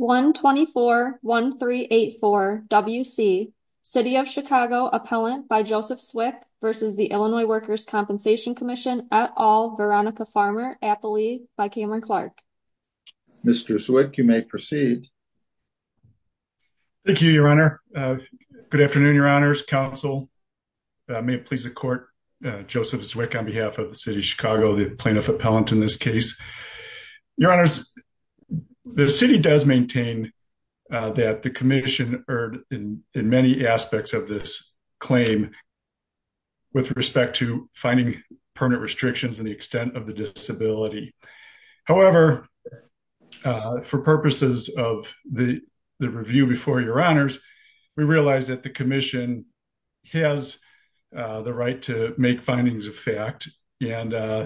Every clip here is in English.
124-1384 W.C. City of Chicago Appellant by Joseph Zwick v. Illinois Workers' Compensation Comm'n et al., Veronica Farmer, Appali by Cameron Clark. Mr. Zwick, you may proceed. Thank you, Your Honor. Good afternoon, Your Honors. Counsel, may it please the Court, Joseph Zwick on behalf of the City of Chicago, the Plaintiff Appellant in this case. Your Honors, the City does maintain that the Commission erred in many aspects of this claim with respect to finding permanent restrictions in the extent of the disability. However, for purposes of the review before Your Honors, we realize that the Commission has the right to make findings of fact, and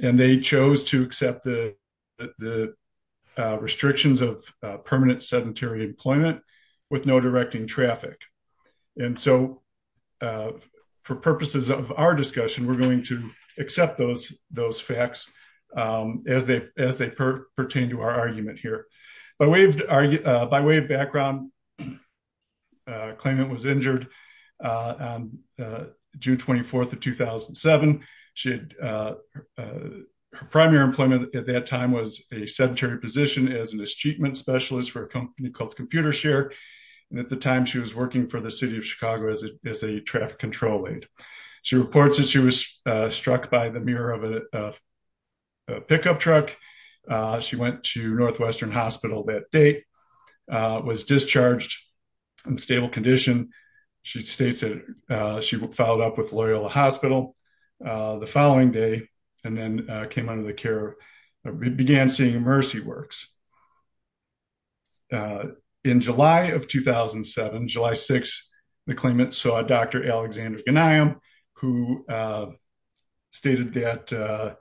they chose to accept the restrictions of permanent sedentary employment with no directing traffic. And so, for purposes of our discussion, we're going to accept those facts as they pertain to our argument here. By way of background, the claimant was injured on June 24th of 2007. Her primary employment at that time was a sedentary position as a mistreatment specialist for a company called Computershare, and at the time she was working for the City of Chicago as a traffic control aide. She reports that she was struck by the mirror of a pickup truck. She went to Northwestern Hospital that day, was discharged in stable condition. She states that she followed up with Loyola Hospital the following day and then came under the care, began seeing Mercy Works. In July of 2007, July 6th, the claimant saw Dr. Alexander Gniam, who stated that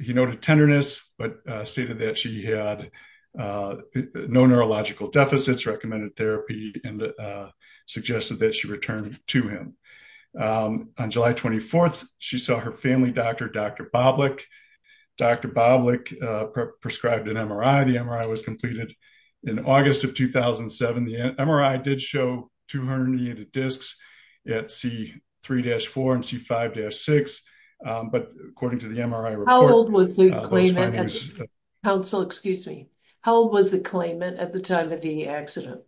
he noted tenderness, but stated that she had no neurological deficits, recommended therapy, and suggested that she return to him. On July 24th, she saw her family doctor, Dr. Boblik. Dr. Boblik prescribed an MRI. The MRI was completed in August of 2007. The MRI did show two herniated discs at C3-4 and C5-6. How old was the claimant at the time of the accident?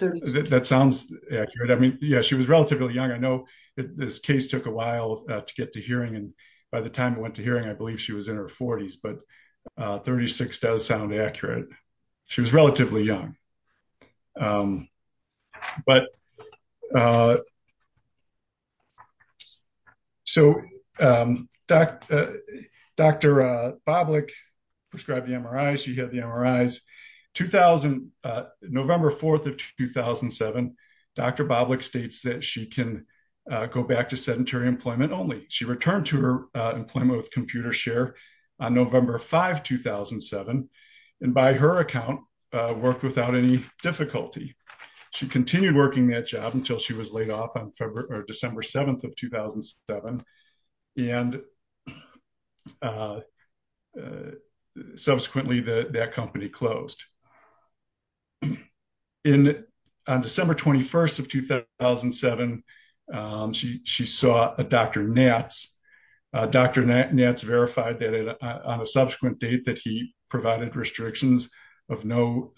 36. That sounds accurate. She was relatively young. I know this case took a while to get to hearing, and by the time it went to hearing, I believe she was in her 40s, but 36 does sound accurate. She was relatively young. Dr. Boblik prescribed the MRI. She had the MRIs. November 4th of 2007, Dr. Boblik states that she can go back to sedentary employment only. She returned to her employment with Computershare on November 5th, 2007, and by her account, worked without any difficulty. She continued working that job until she was laid off on December 7th of 2007, and subsequently, that company closed. On December 21st of 2007, she saw Dr. Nats. Dr. Nats verified on a subsequent date that he provided restrictions of no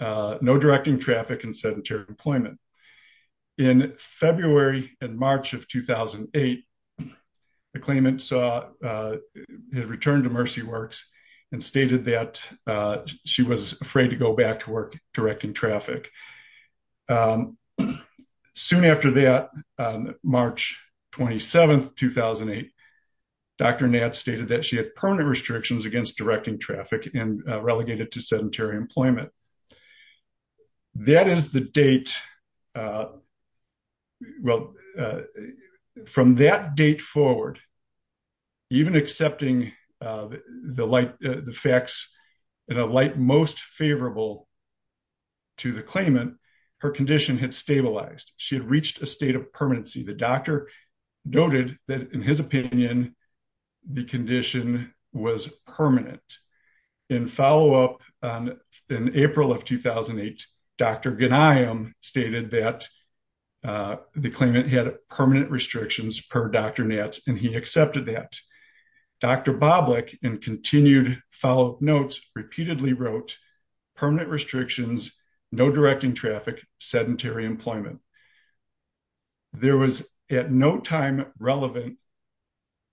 directing traffic in sedentary employment. In February and March of 2008, the claimant returned to Mercy Works and stated that she was afraid to go back to work directing traffic. Soon after that, March 27th, 2008, Dr. Nats stated that she had permanent restrictions against directing traffic and relegated to sedentary employment. That is the date, well, from that date forward, even accepting the facts in a light most favorable to the claimant, her condition had stabilized. She had reached a state of permanency. The doctor noted that in his opinion, the condition was permanent. In follow-up in April of 2008, Dr. Ghanayem stated that the claimant had permanent restrictions per Dr. Nats, and he accepted that. Dr. Boblik, in continued follow-up notes, repeatedly wrote, permanent restrictions, no directing traffic, sedentary employment. There was at no time relevant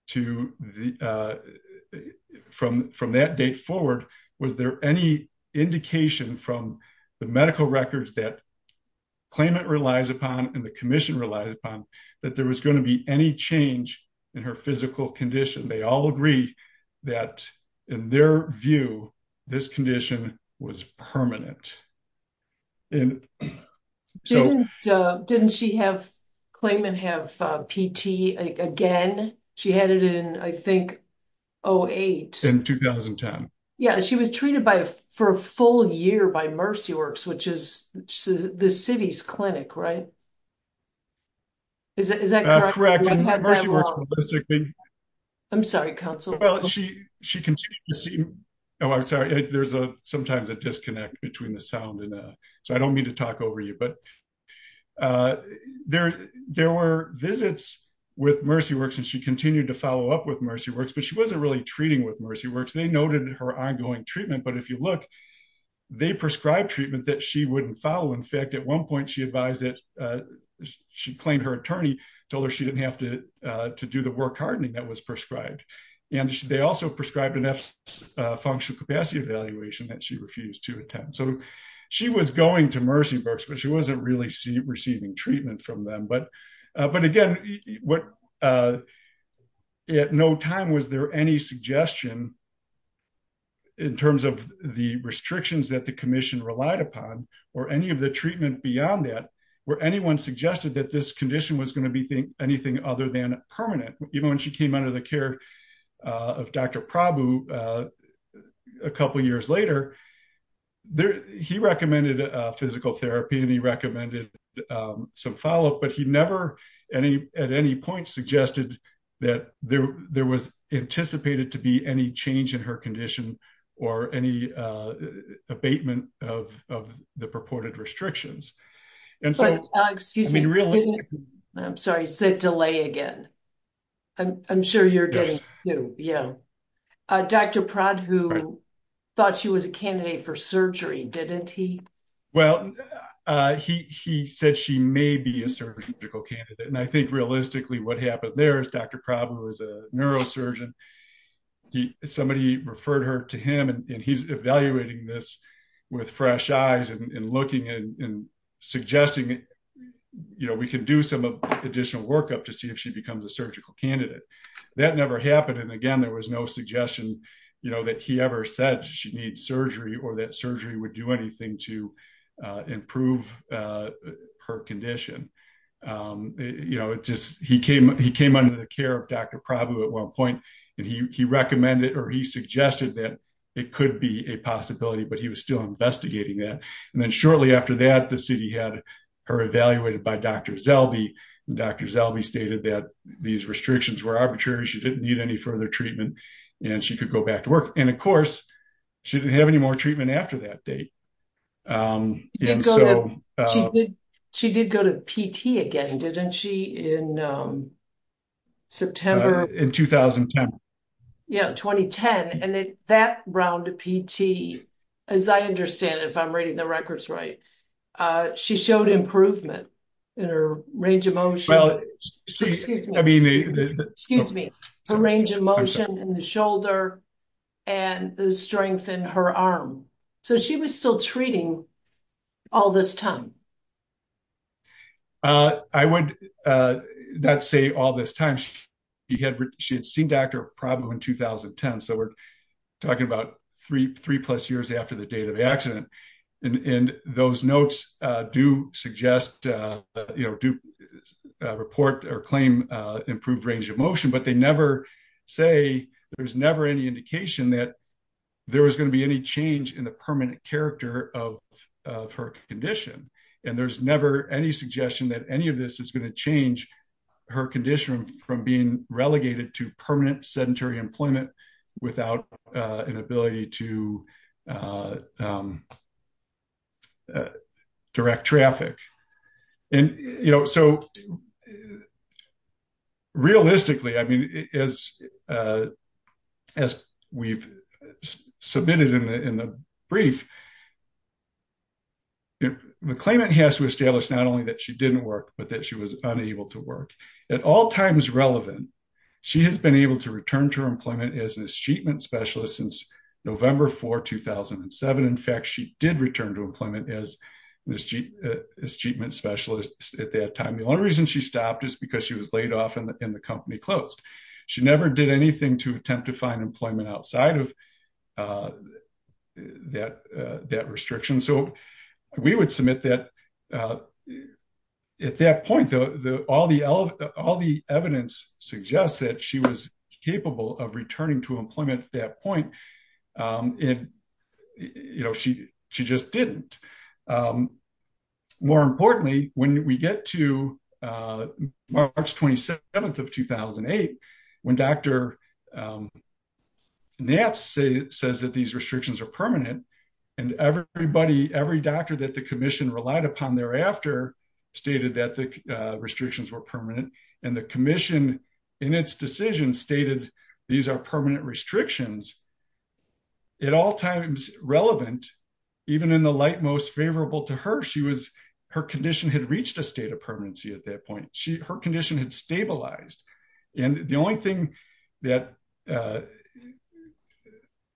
to the, from that date forward, was there any indication from the medical records that claimant relies upon and the commission relies upon that there was going to be any change in her physical condition. They all agree that in their view, this condition was permanent. Didn't she have, claimant have PT again? She had it in, I think, 08. In 2010. Yeah, she was treated for a full year by Mercy Works, which is the city's clinic, right? Is that correct? I'm sorry, counsel. Well, she continued to see, oh, I'm sorry, there's sometimes a disconnect between the sound and, so I don't mean to talk over you, but there were visits with Mercy Works and she continued to follow up with Mercy Works, but she wasn't really treating with Mercy Works. They noted her ongoing treatment, but if you look, they prescribed treatment that she wouldn't follow. In fact, at one point, she advised that she claimed her attorney told her she didn't have to do the work hardening that was prescribed. They also prescribed enough functional capacity evaluation that she refused to attend. She was going to Mercy Works, but she wasn't really receiving treatment from them. Again, at no time was there any suggestion in terms of the restrictions that the commission relied upon or any of the treatment beyond that, where anyone suggested that this condition was going to be anything other than permanent. Even when she came under the care of Dr. Prabhu a couple of years later, he recommended physical therapy and he recommended some follow-up, but he never at any point suggested that there was anticipated to be any change in her condition or any abatement of the purported restrictions. I'm sorry, you said delay again. I'm sure you're getting through. Dr. Prabhu thought she was a candidate for surgery, didn't he? Well, he said she may be a surgical candidate. I think realistically what happened there is Dr. Prabhu is a neurosurgeon. Somebody referred her to him and he's evaluating this with fresh eyes and looking and suggesting we could do some additional workup to see if she becomes a surgical candidate. That never happened. Again, there was no suggestion that he ever said she needs surgery or that surgery would do anything to improve her condition. He came under the care of Dr. Prabhu at one point and he recommended or he suggested that it could be a possibility, but he was still investigating that. Shortly after that, the city had her evaluated by Dr. Zelby. Dr. Zelby stated that these restrictions were arbitrary. She didn't need any further treatment and she could go back to work. Of course, she didn't have any more treatment after that date. She did go to PT again, didn't she, in September? In 2010. Yeah, 2010. That round of PT, as I understand it, if I'm reading the records right, she showed improvement in her range of motion. Excuse me. Her range of motion in the shoulder and the strength in her arm. She was still treating all this time. I would not say all this time. She had seen Dr. Prabhu in 2010, so we're talking about three plus years after the date of the accident. Those notes do report or claim improved range of motion, but they never say, there's never any indication that there was going to be any change in the permanent character of her condition. There's never any suggestion that any of this is going to change her condition from being relegated to permanent sedentary employment without an ability to direct traffic. Realistically, as we've submitted in the brief, the claimant has to establish not only that she didn't work, but that she was unable to work. At all times relevant, she has been able to return to her employment as a treatment specialist since November 4, 2007. In fact, she did return to employment as treatment specialist at that time. The only reason she stopped is because she was laid off and the company closed. She never did anything to attempt to find employment outside of that restriction. We would submit that at that point, all the evidence suggests that she was capable of returning to employment at that point. She just didn't. More importantly, when we get to March 27, 2008, when Dr. Nats says that these restrictions are permanent, and every doctor that the commission relied upon thereafter stated that the restrictions were permanent, and the commission in its decision stated these are permanent restrictions, at all times relevant, even in the light most favorable to her, her condition had reached a state of permanency at that point. Her condition had stabilized. What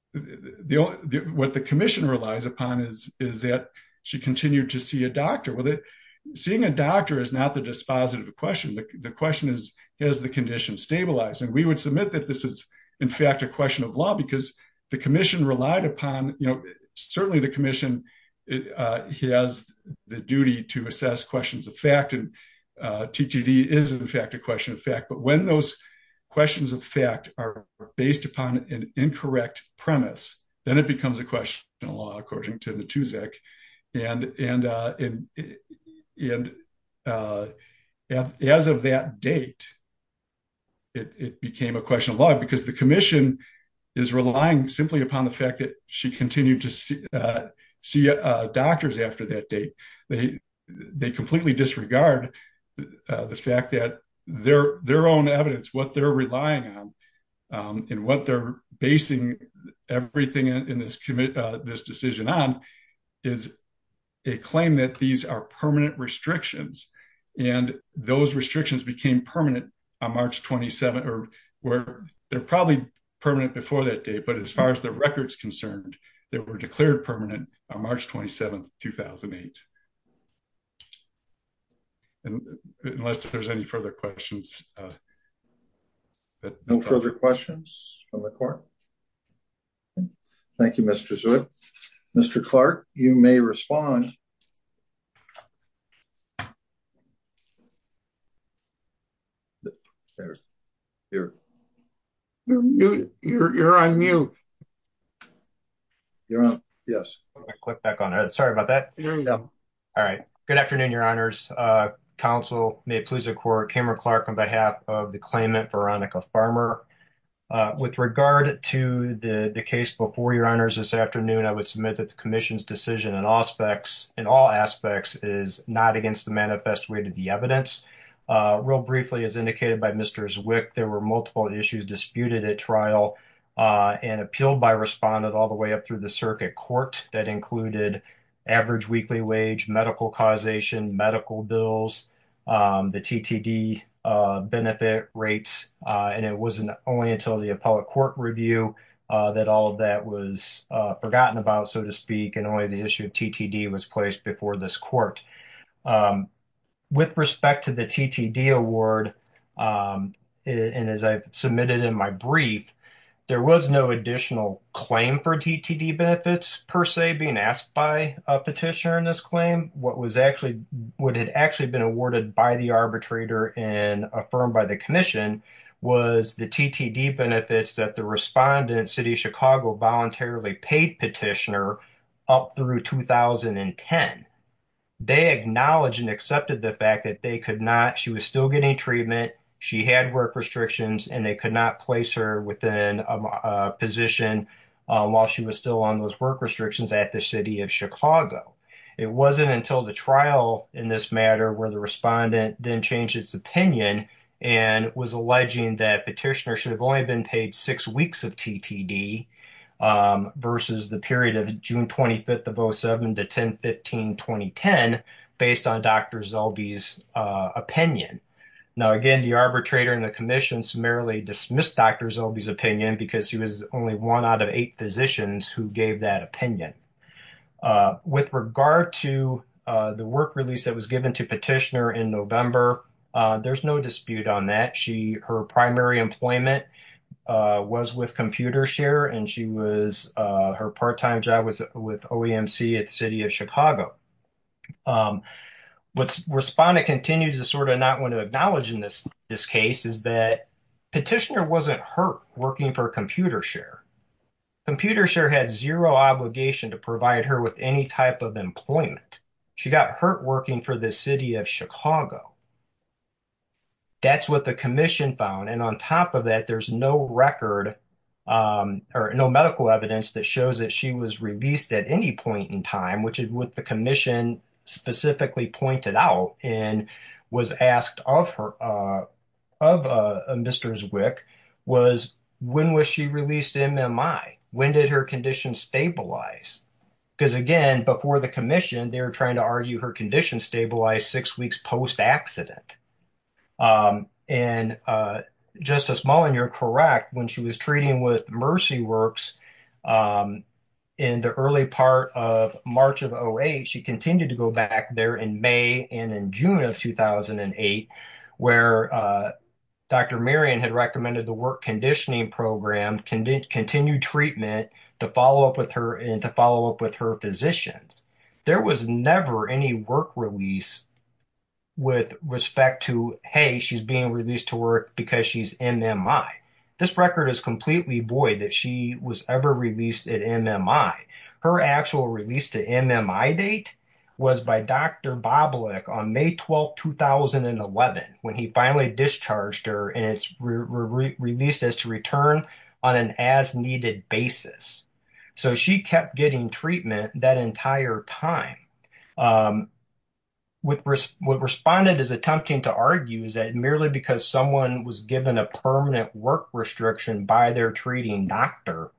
the commission relies upon is that she continued to see a doctor. Seeing a doctor is not the dispositive question. The question is, has the condition stabilized? We would submit that this is, in fact, a question of law because the commission relied upon, certainly the commission has the duty to assess questions of fact. TTD is, in fact, a question of fact. When those questions of fact are based upon an incorrect premise, then it becomes a question of law, according to Natuzak. And as of that date, it became a question of law because the commission is relying simply upon the fact that she continued to see doctors after that date. They completely disregard the fact that their own evidence, what they're relying on, and what they're basing everything in this decision on, is a claim that these are permanent restrictions. And those restrictions became permanent on March 27th, or they're probably permanent before that date, but as far as the record's concerned, they were declared permanent on March 27th, 2008. And unless there's any further questions. No further questions from the court. Thank you, Mr. Zewde. Mr. Clark, you may respond. You're on mute. You're on, yes. Sorry about that. All right. Good afternoon, your honors. Council, may it please the court, Cameron Clark on behalf of the claimant, Veronica Farmer. With regard to the case before your honors this afternoon, I would submit that the commission's decision in all aspects is not against the manifest way to the evidence. Real briefly, as indicated by Mr. Zwick, there were multiple issues disputed at trial and appealed by respondent all the way up through the circuit court that included average weekly wage, medical causation, medical bills, the TTD benefit rates, and it wasn't only until the appellate court review that all of that was forgotten about, so to speak, and only the issue of TTD was placed before this court. With respect to the TTD award, and as I submitted in my brief, there was no additional claim for TTD benefits per se being asked by a petitioner in this claim. What had actually been awarded by the arbitrator and affirmed by the commission was the TTD benefits that the respondent, City of Chicago, voluntarily paid petitioner up through 2010. They acknowledged and accepted the fact that she was still getting treatment, she had work restrictions, and they could not her within a position while she was still on those work restrictions at the City of Chicago. It wasn't until the trial in this matter where the respondent then changed its opinion and was alleging that petitioner should have only been paid six weeks of TTD versus the period of June 25th of 07 to 10-15-2010 based on Dr. Zelby's opinion. Now, again, the arbitrator and the commission summarily dismissed Dr. Zelby's opinion because he was only one out of eight physicians who gave that opinion. With regard to the work release that was given to petitioner in November, there's no dispute on that. Her primary employment was with ComputerShare, and her part-time job was with OEMC at City of Chicago. What respondent continues to sort of not want to acknowledge in this case is that petitioner wasn't hurt working for ComputerShare. ComputerShare had zero obligation to provide her with any type of employment. She got hurt working for the City of Chicago. That's what the commission found. And on top of that, there's no record or no medical evidence that shows that she was released at any point in time, which is what the commission specifically pointed out and was asked of her, of Mr. Zwick, was when was she released to MMI? When did her condition stabilize? Because again, before the commission, they were trying to argue her condition stabilized six weeks post-accident. And Justice Mullen, you're correct. When she was treating with MercyWorks in the early part of March of 08, she continued to go back there in May and in June of 2008, where Dr. Marion had recommended the work conditioning program, continued treatment to follow up with her and to follow up with her physicians. There was never any work release with respect to, hey, she's being released to work because she's MMI. This record is completely void that she was ever released at MMI. Her actual release to MMI date was by Dr. Boblik on May 12, 2011, when he finally discharged her and it's released as to return on an as-needed basis. So she kept getting treatment that entire time. What responded is attempting to argue is that merely because someone was given a permanent work restriction by their treating doctor,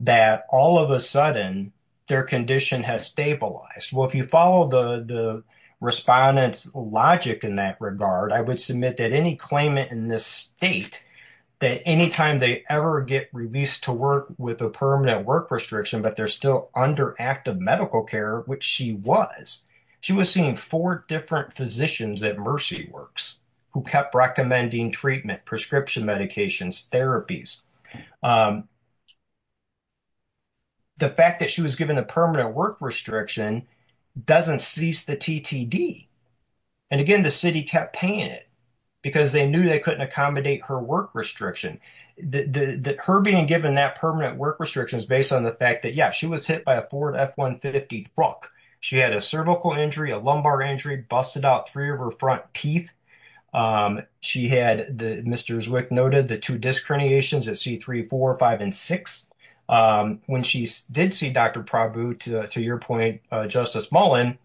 that all of a sudden their condition has stabilized. Well, if you follow the respondent's logic in that regard, I would submit that any claimant in this state, that anytime they ever get released to work with a permanent work restriction, but they're still under active medical care, which she was, she was seeing four different physicians at MercyWorks who kept recommending treatment, prescription medications, therapies. The fact that she was given a permanent work restriction doesn't cease the TTD. And again, the city kept paying it because they knew they couldn't accommodate her work restriction. Her being given that permanent work restriction is based on the fact that, yeah, she was hit by a Ford F-150 truck. She had a cervical injury, a lumbar injury, busted out three of her front teeth. She had, Mr. Zwick noted, the two disc herniations at C3, 4, 5, and 6. When she did see Dr. Prabhu, to your point, Justice Mullen,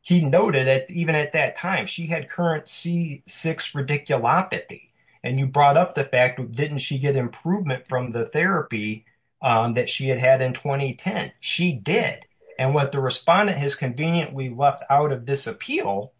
he noted that even at that time, she had current C6 radiculopathy. And you brought up the fact, didn't she get improvement from the therapy that she had had in 2010? She did. And what the respondent has conveniently left out of this appeal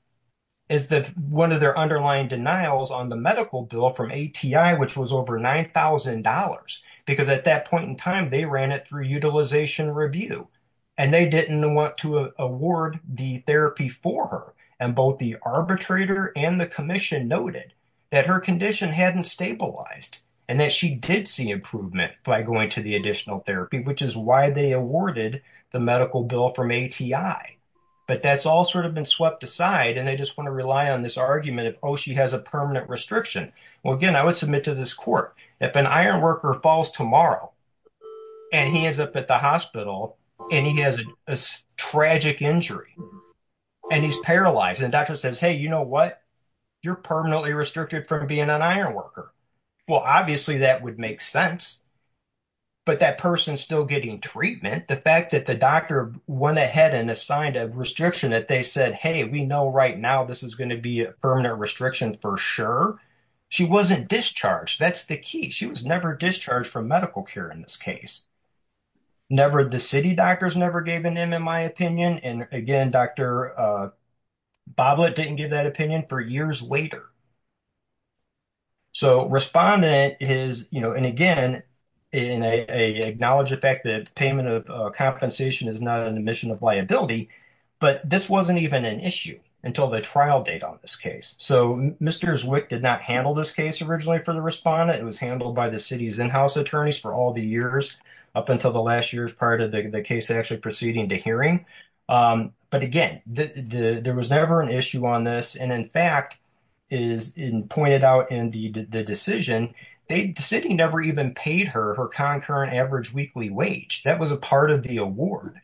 is that one of their underlying denials on the medical bill from ATI, which was $9,000. Because at that point in time, they ran it through utilization review and they didn't want to award the therapy for her. And both the arbitrator and the commission noted that her condition hadn't stabilized and that she did see improvement by going to the additional therapy, which is why they awarded the medical bill from ATI. But that's all sort of been swept aside. And they just want to rely on this argument of, oh, she has a permanent restriction. Well, again, I would submit to this court, if an ironworker falls tomorrow and he ends up at the hospital and he has a tragic injury and he's paralyzed and the doctor says, hey, you know what? You're permanently restricted from being an ironworker. Well, obviously that would make sense. But that person's still getting treatment. The fact that the doctor went ahead and assigned a restriction that they said, hey, we know right now this is going to be a permanent restriction for sure. She wasn't discharged. That's the key. She was never discharged from medical care in this case. Never the city doctors never gave an MMI opinion. And again, Dr. Boblett didn't give that opinion for years later. So respondent is, you know, and again, in a acknowledge the fact that payment of compensation is not an admission of liability, but this wasn't even an issue until the trial date on this case. So Mr. Zwick did not handle this case originally for the respondent. It was handled by the city's in-house attorneys for all the years up until the last year's prior to the case actually proceeding to hearing. But again, there was never an issue on this. And in fact, as pointed out in the decision, the city never even paid her her concurrent average weekly wage. That was a part of the award.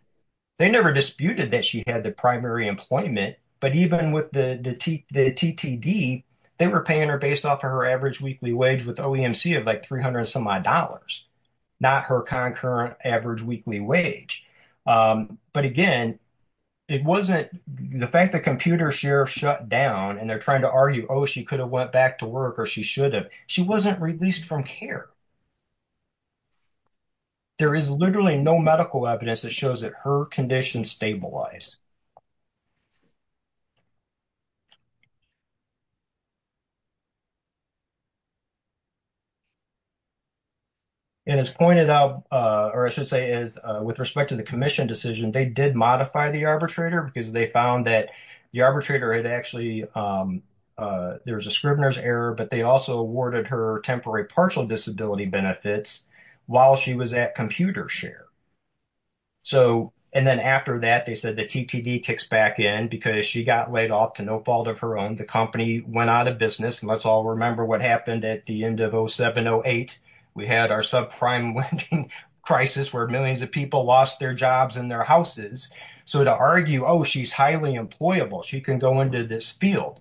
They never disputed that she had the primary employment, but even with the TTD, they were paying her based off of her average weekly wage with OEMC of like 300 and some odd dollars, not her concurrent average weekly wage. But again, it wasn't the fact that computer share shut down and they're trying to argue, oh, she could have went back to work or she should have. She wasn't released from care. There is literally no medical evidence that shows that her condition stabilized. And as pointed out, or I should say is with respect to the commission decision, they did modify the arbitrator because they found that the arbitrator had actually, there was a scrivener's error, but they also awarded her temporary partial disability benefits while she was at computer share. And then after that, they said the TTD kicks back in because she got laid off to no fault of her own. The company went out of business. And let's all remember what happened at the end of 07-08. We had our subprime lending crisis where millions of people lost their jobs and their houses. So to argue, oh, she's highly employable. She can go into this field.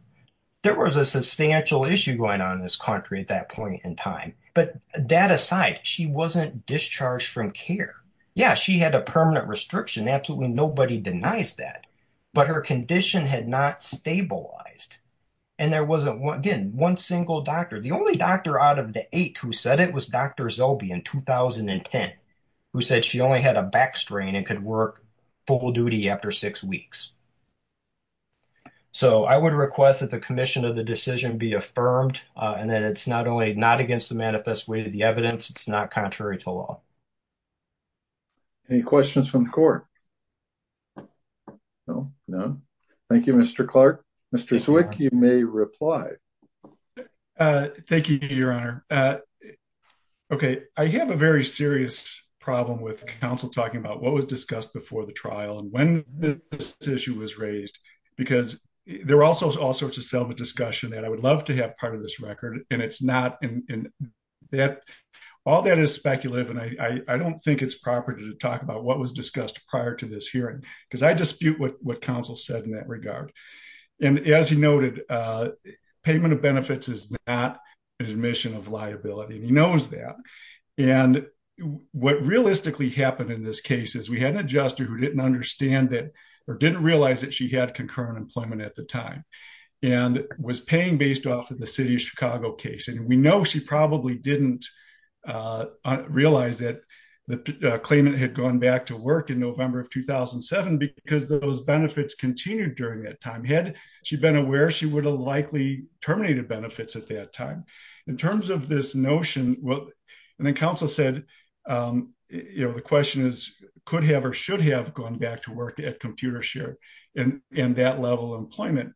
There was a substantial issue going on in this country at that point in time. But that aside, she wasn't discharged from care. Yeah, she had a permanent restriction. Absolutely nobody denies that, but her condition had not stabilized. And there wasn't one, again, one single doctor. The only doctor out of the eight who said it was Dr. Zellbe in 2010, who said she only had a back strain and could work full duty after six weeks. So I would request that the commission of the decision be affirmed, and that it's not only not against the manifest way of the evidence, it's not contrary to law. Any questions from the court? No? No? Thank you, Mr. Clark. Mr. Zwick, you may reply. Thank you, Your Honor. Okay. I have a very serious problem with counsel talking about what was discussed before the trial and when this issue was raised, because there were also all sorts of self-discussion that I would love to have part of this record, and it's not. All that is speculative, and I don't think it's proper to talk about what was discussed prior to this hearing, because I dispute what counsel said in that regard. And as he noted, payment of benefits is not an admission of liability, and he knows that. And what realistically happened in this case is we had an adjuster who didn't understand that or didn't realize that she had concurrent employment at the time and was paying based off of the city of Chicago case. And we know she probably didn't realize that the claimant had gone back to work in November of 2007 because those benefits continued during that time. Had she been aware, she would have likely terminated benefits at that time. In terms of this notion, and then counsel said, you know, the question is, could have or should have gone back to work at Computershare in that level of employment.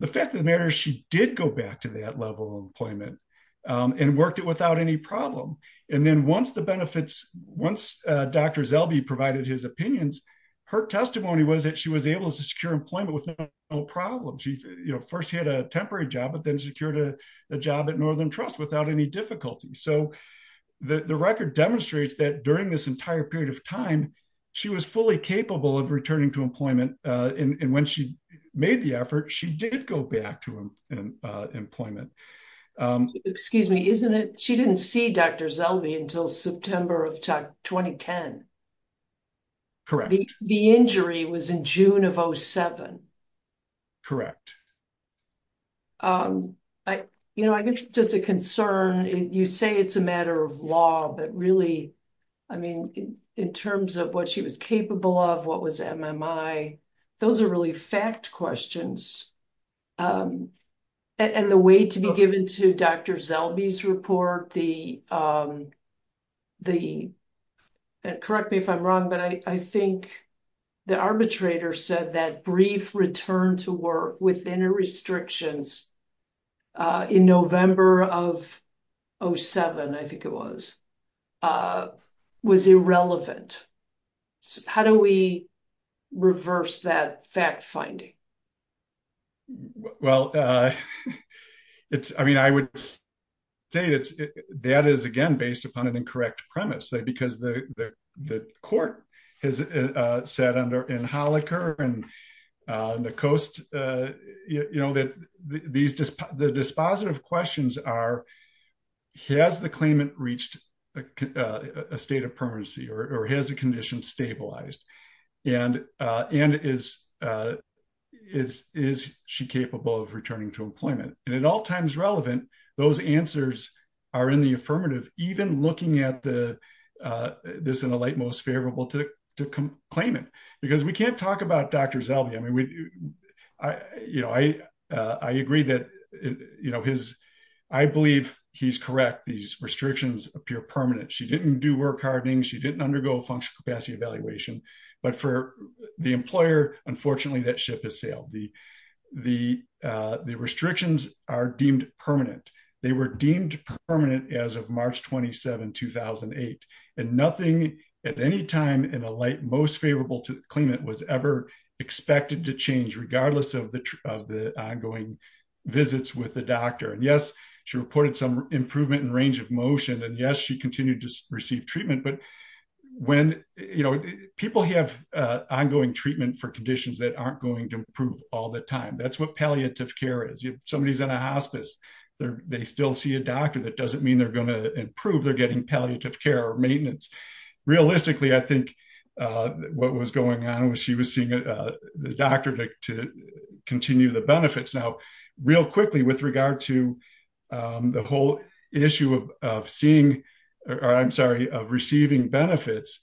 The fact of the matter is she did go back to that level of employment and worked it without any problem. And then once the benefits, once Dr. Zelby provided his opinions, her testimony was that she was able to secure employment with no problem. She, you know, first had a temporary job, but then secured a job at Northern Trust without any difficulty. So the record demonstrates that during this entire period of time, she was fully capable of returning to employment. And when she made the effort, she did go back to employment. Excuse me, isn't it? She didn't see Dr. Zelby until September of 2010. Correct. The injury was in June of 07. Correct. I, you know, I guess just a concern. You say it's a matter of law, but really, I mean, in terms of what she was capable of, what was MMI? Those are really fact questions. And the way to be given to Dr. Zelby's report, the, correct me if I'm wrong, but I think the arbitrator said that brief return to work within a restrictions in November of 07, I think it was, was irrelevant. How do we reverse that fact finding? Well, it's, I mean, I would say that is again, based upon an incorrect premise that, because the court has sat under in Holicker and the coast, you know, that these, the dispositive questions are, has the claimant reached a state of permanency or has the condition stabilized? And is she capable of returning to and at all times relevant, those answers are in the affirmative, even looking at the, this in a light, most favorable to claim it, because we can't talk about Dr. Zelby. I mean, I, you know, I, I agree that, you know, his, I believe he's correct. These restrictions appear permanent. She didn't do work hardening. She didn't undergo functional capacity evaluation, but for the employer, unfortunately that ship has sailed. The, the, the restrictions are deemed permanent. They were deemed permanent as of March 27, 2008, and nothing at any time in a light, most favorable to the claimant was ever expected to change regardless of the, of the ongoing visits with the doctor. And yes, she reported some improvement in range of motion. And yes, continued to receive treatment. But when, you know, people have ongoing treatment for conditions that aren't going to improve all the time, that's what palliative care is. If somebody's in a hospice, they're, they still see a doctor. That doesn't mean they're going to improve. They're getting palliative care or maintenance. Realistically, I think what was going on was she was seeing the doctor to continue the benefits. Now, real quickly with regard to the whole issue of seeing, or I'm sorry, of receiving benefits.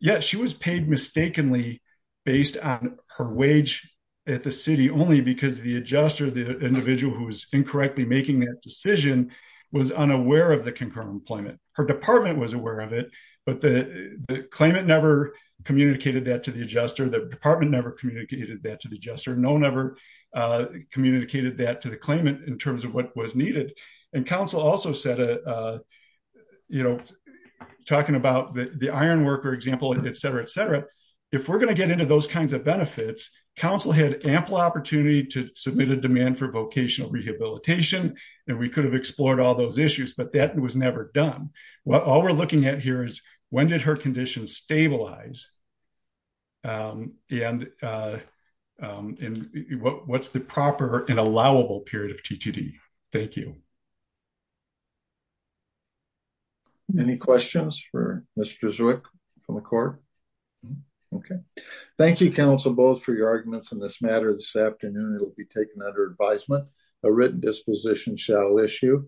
Yes, she was paid mistakenly based on her wage at the city only because the adjuster, the individual who was incorrectly making that decision was unaware of the concurrent employment. Her department was aware of it, but the claimant never communicated that to the adjuster. The department never communicated that to the adjuster. No one ever communicated that to the claimant in terms of what was needed. And council also said, you know, talking about the iron worker example, et cetera, et cetera. If we're going to get into those kinds of benefits, council had ample opportunity to submit a demand for vocational rehabilitation, and we could have explored all those issues, but that was never done. What all we're looking at here is when did her condition stabilize? And what's the proper and allowable period of TTD? Thank you. Any questions for Mr. Zwick from the court? Okay. Thank you, council, both for your arguments on this matter this afternoon. It'll be taken under advisement. A written disposition shall issue.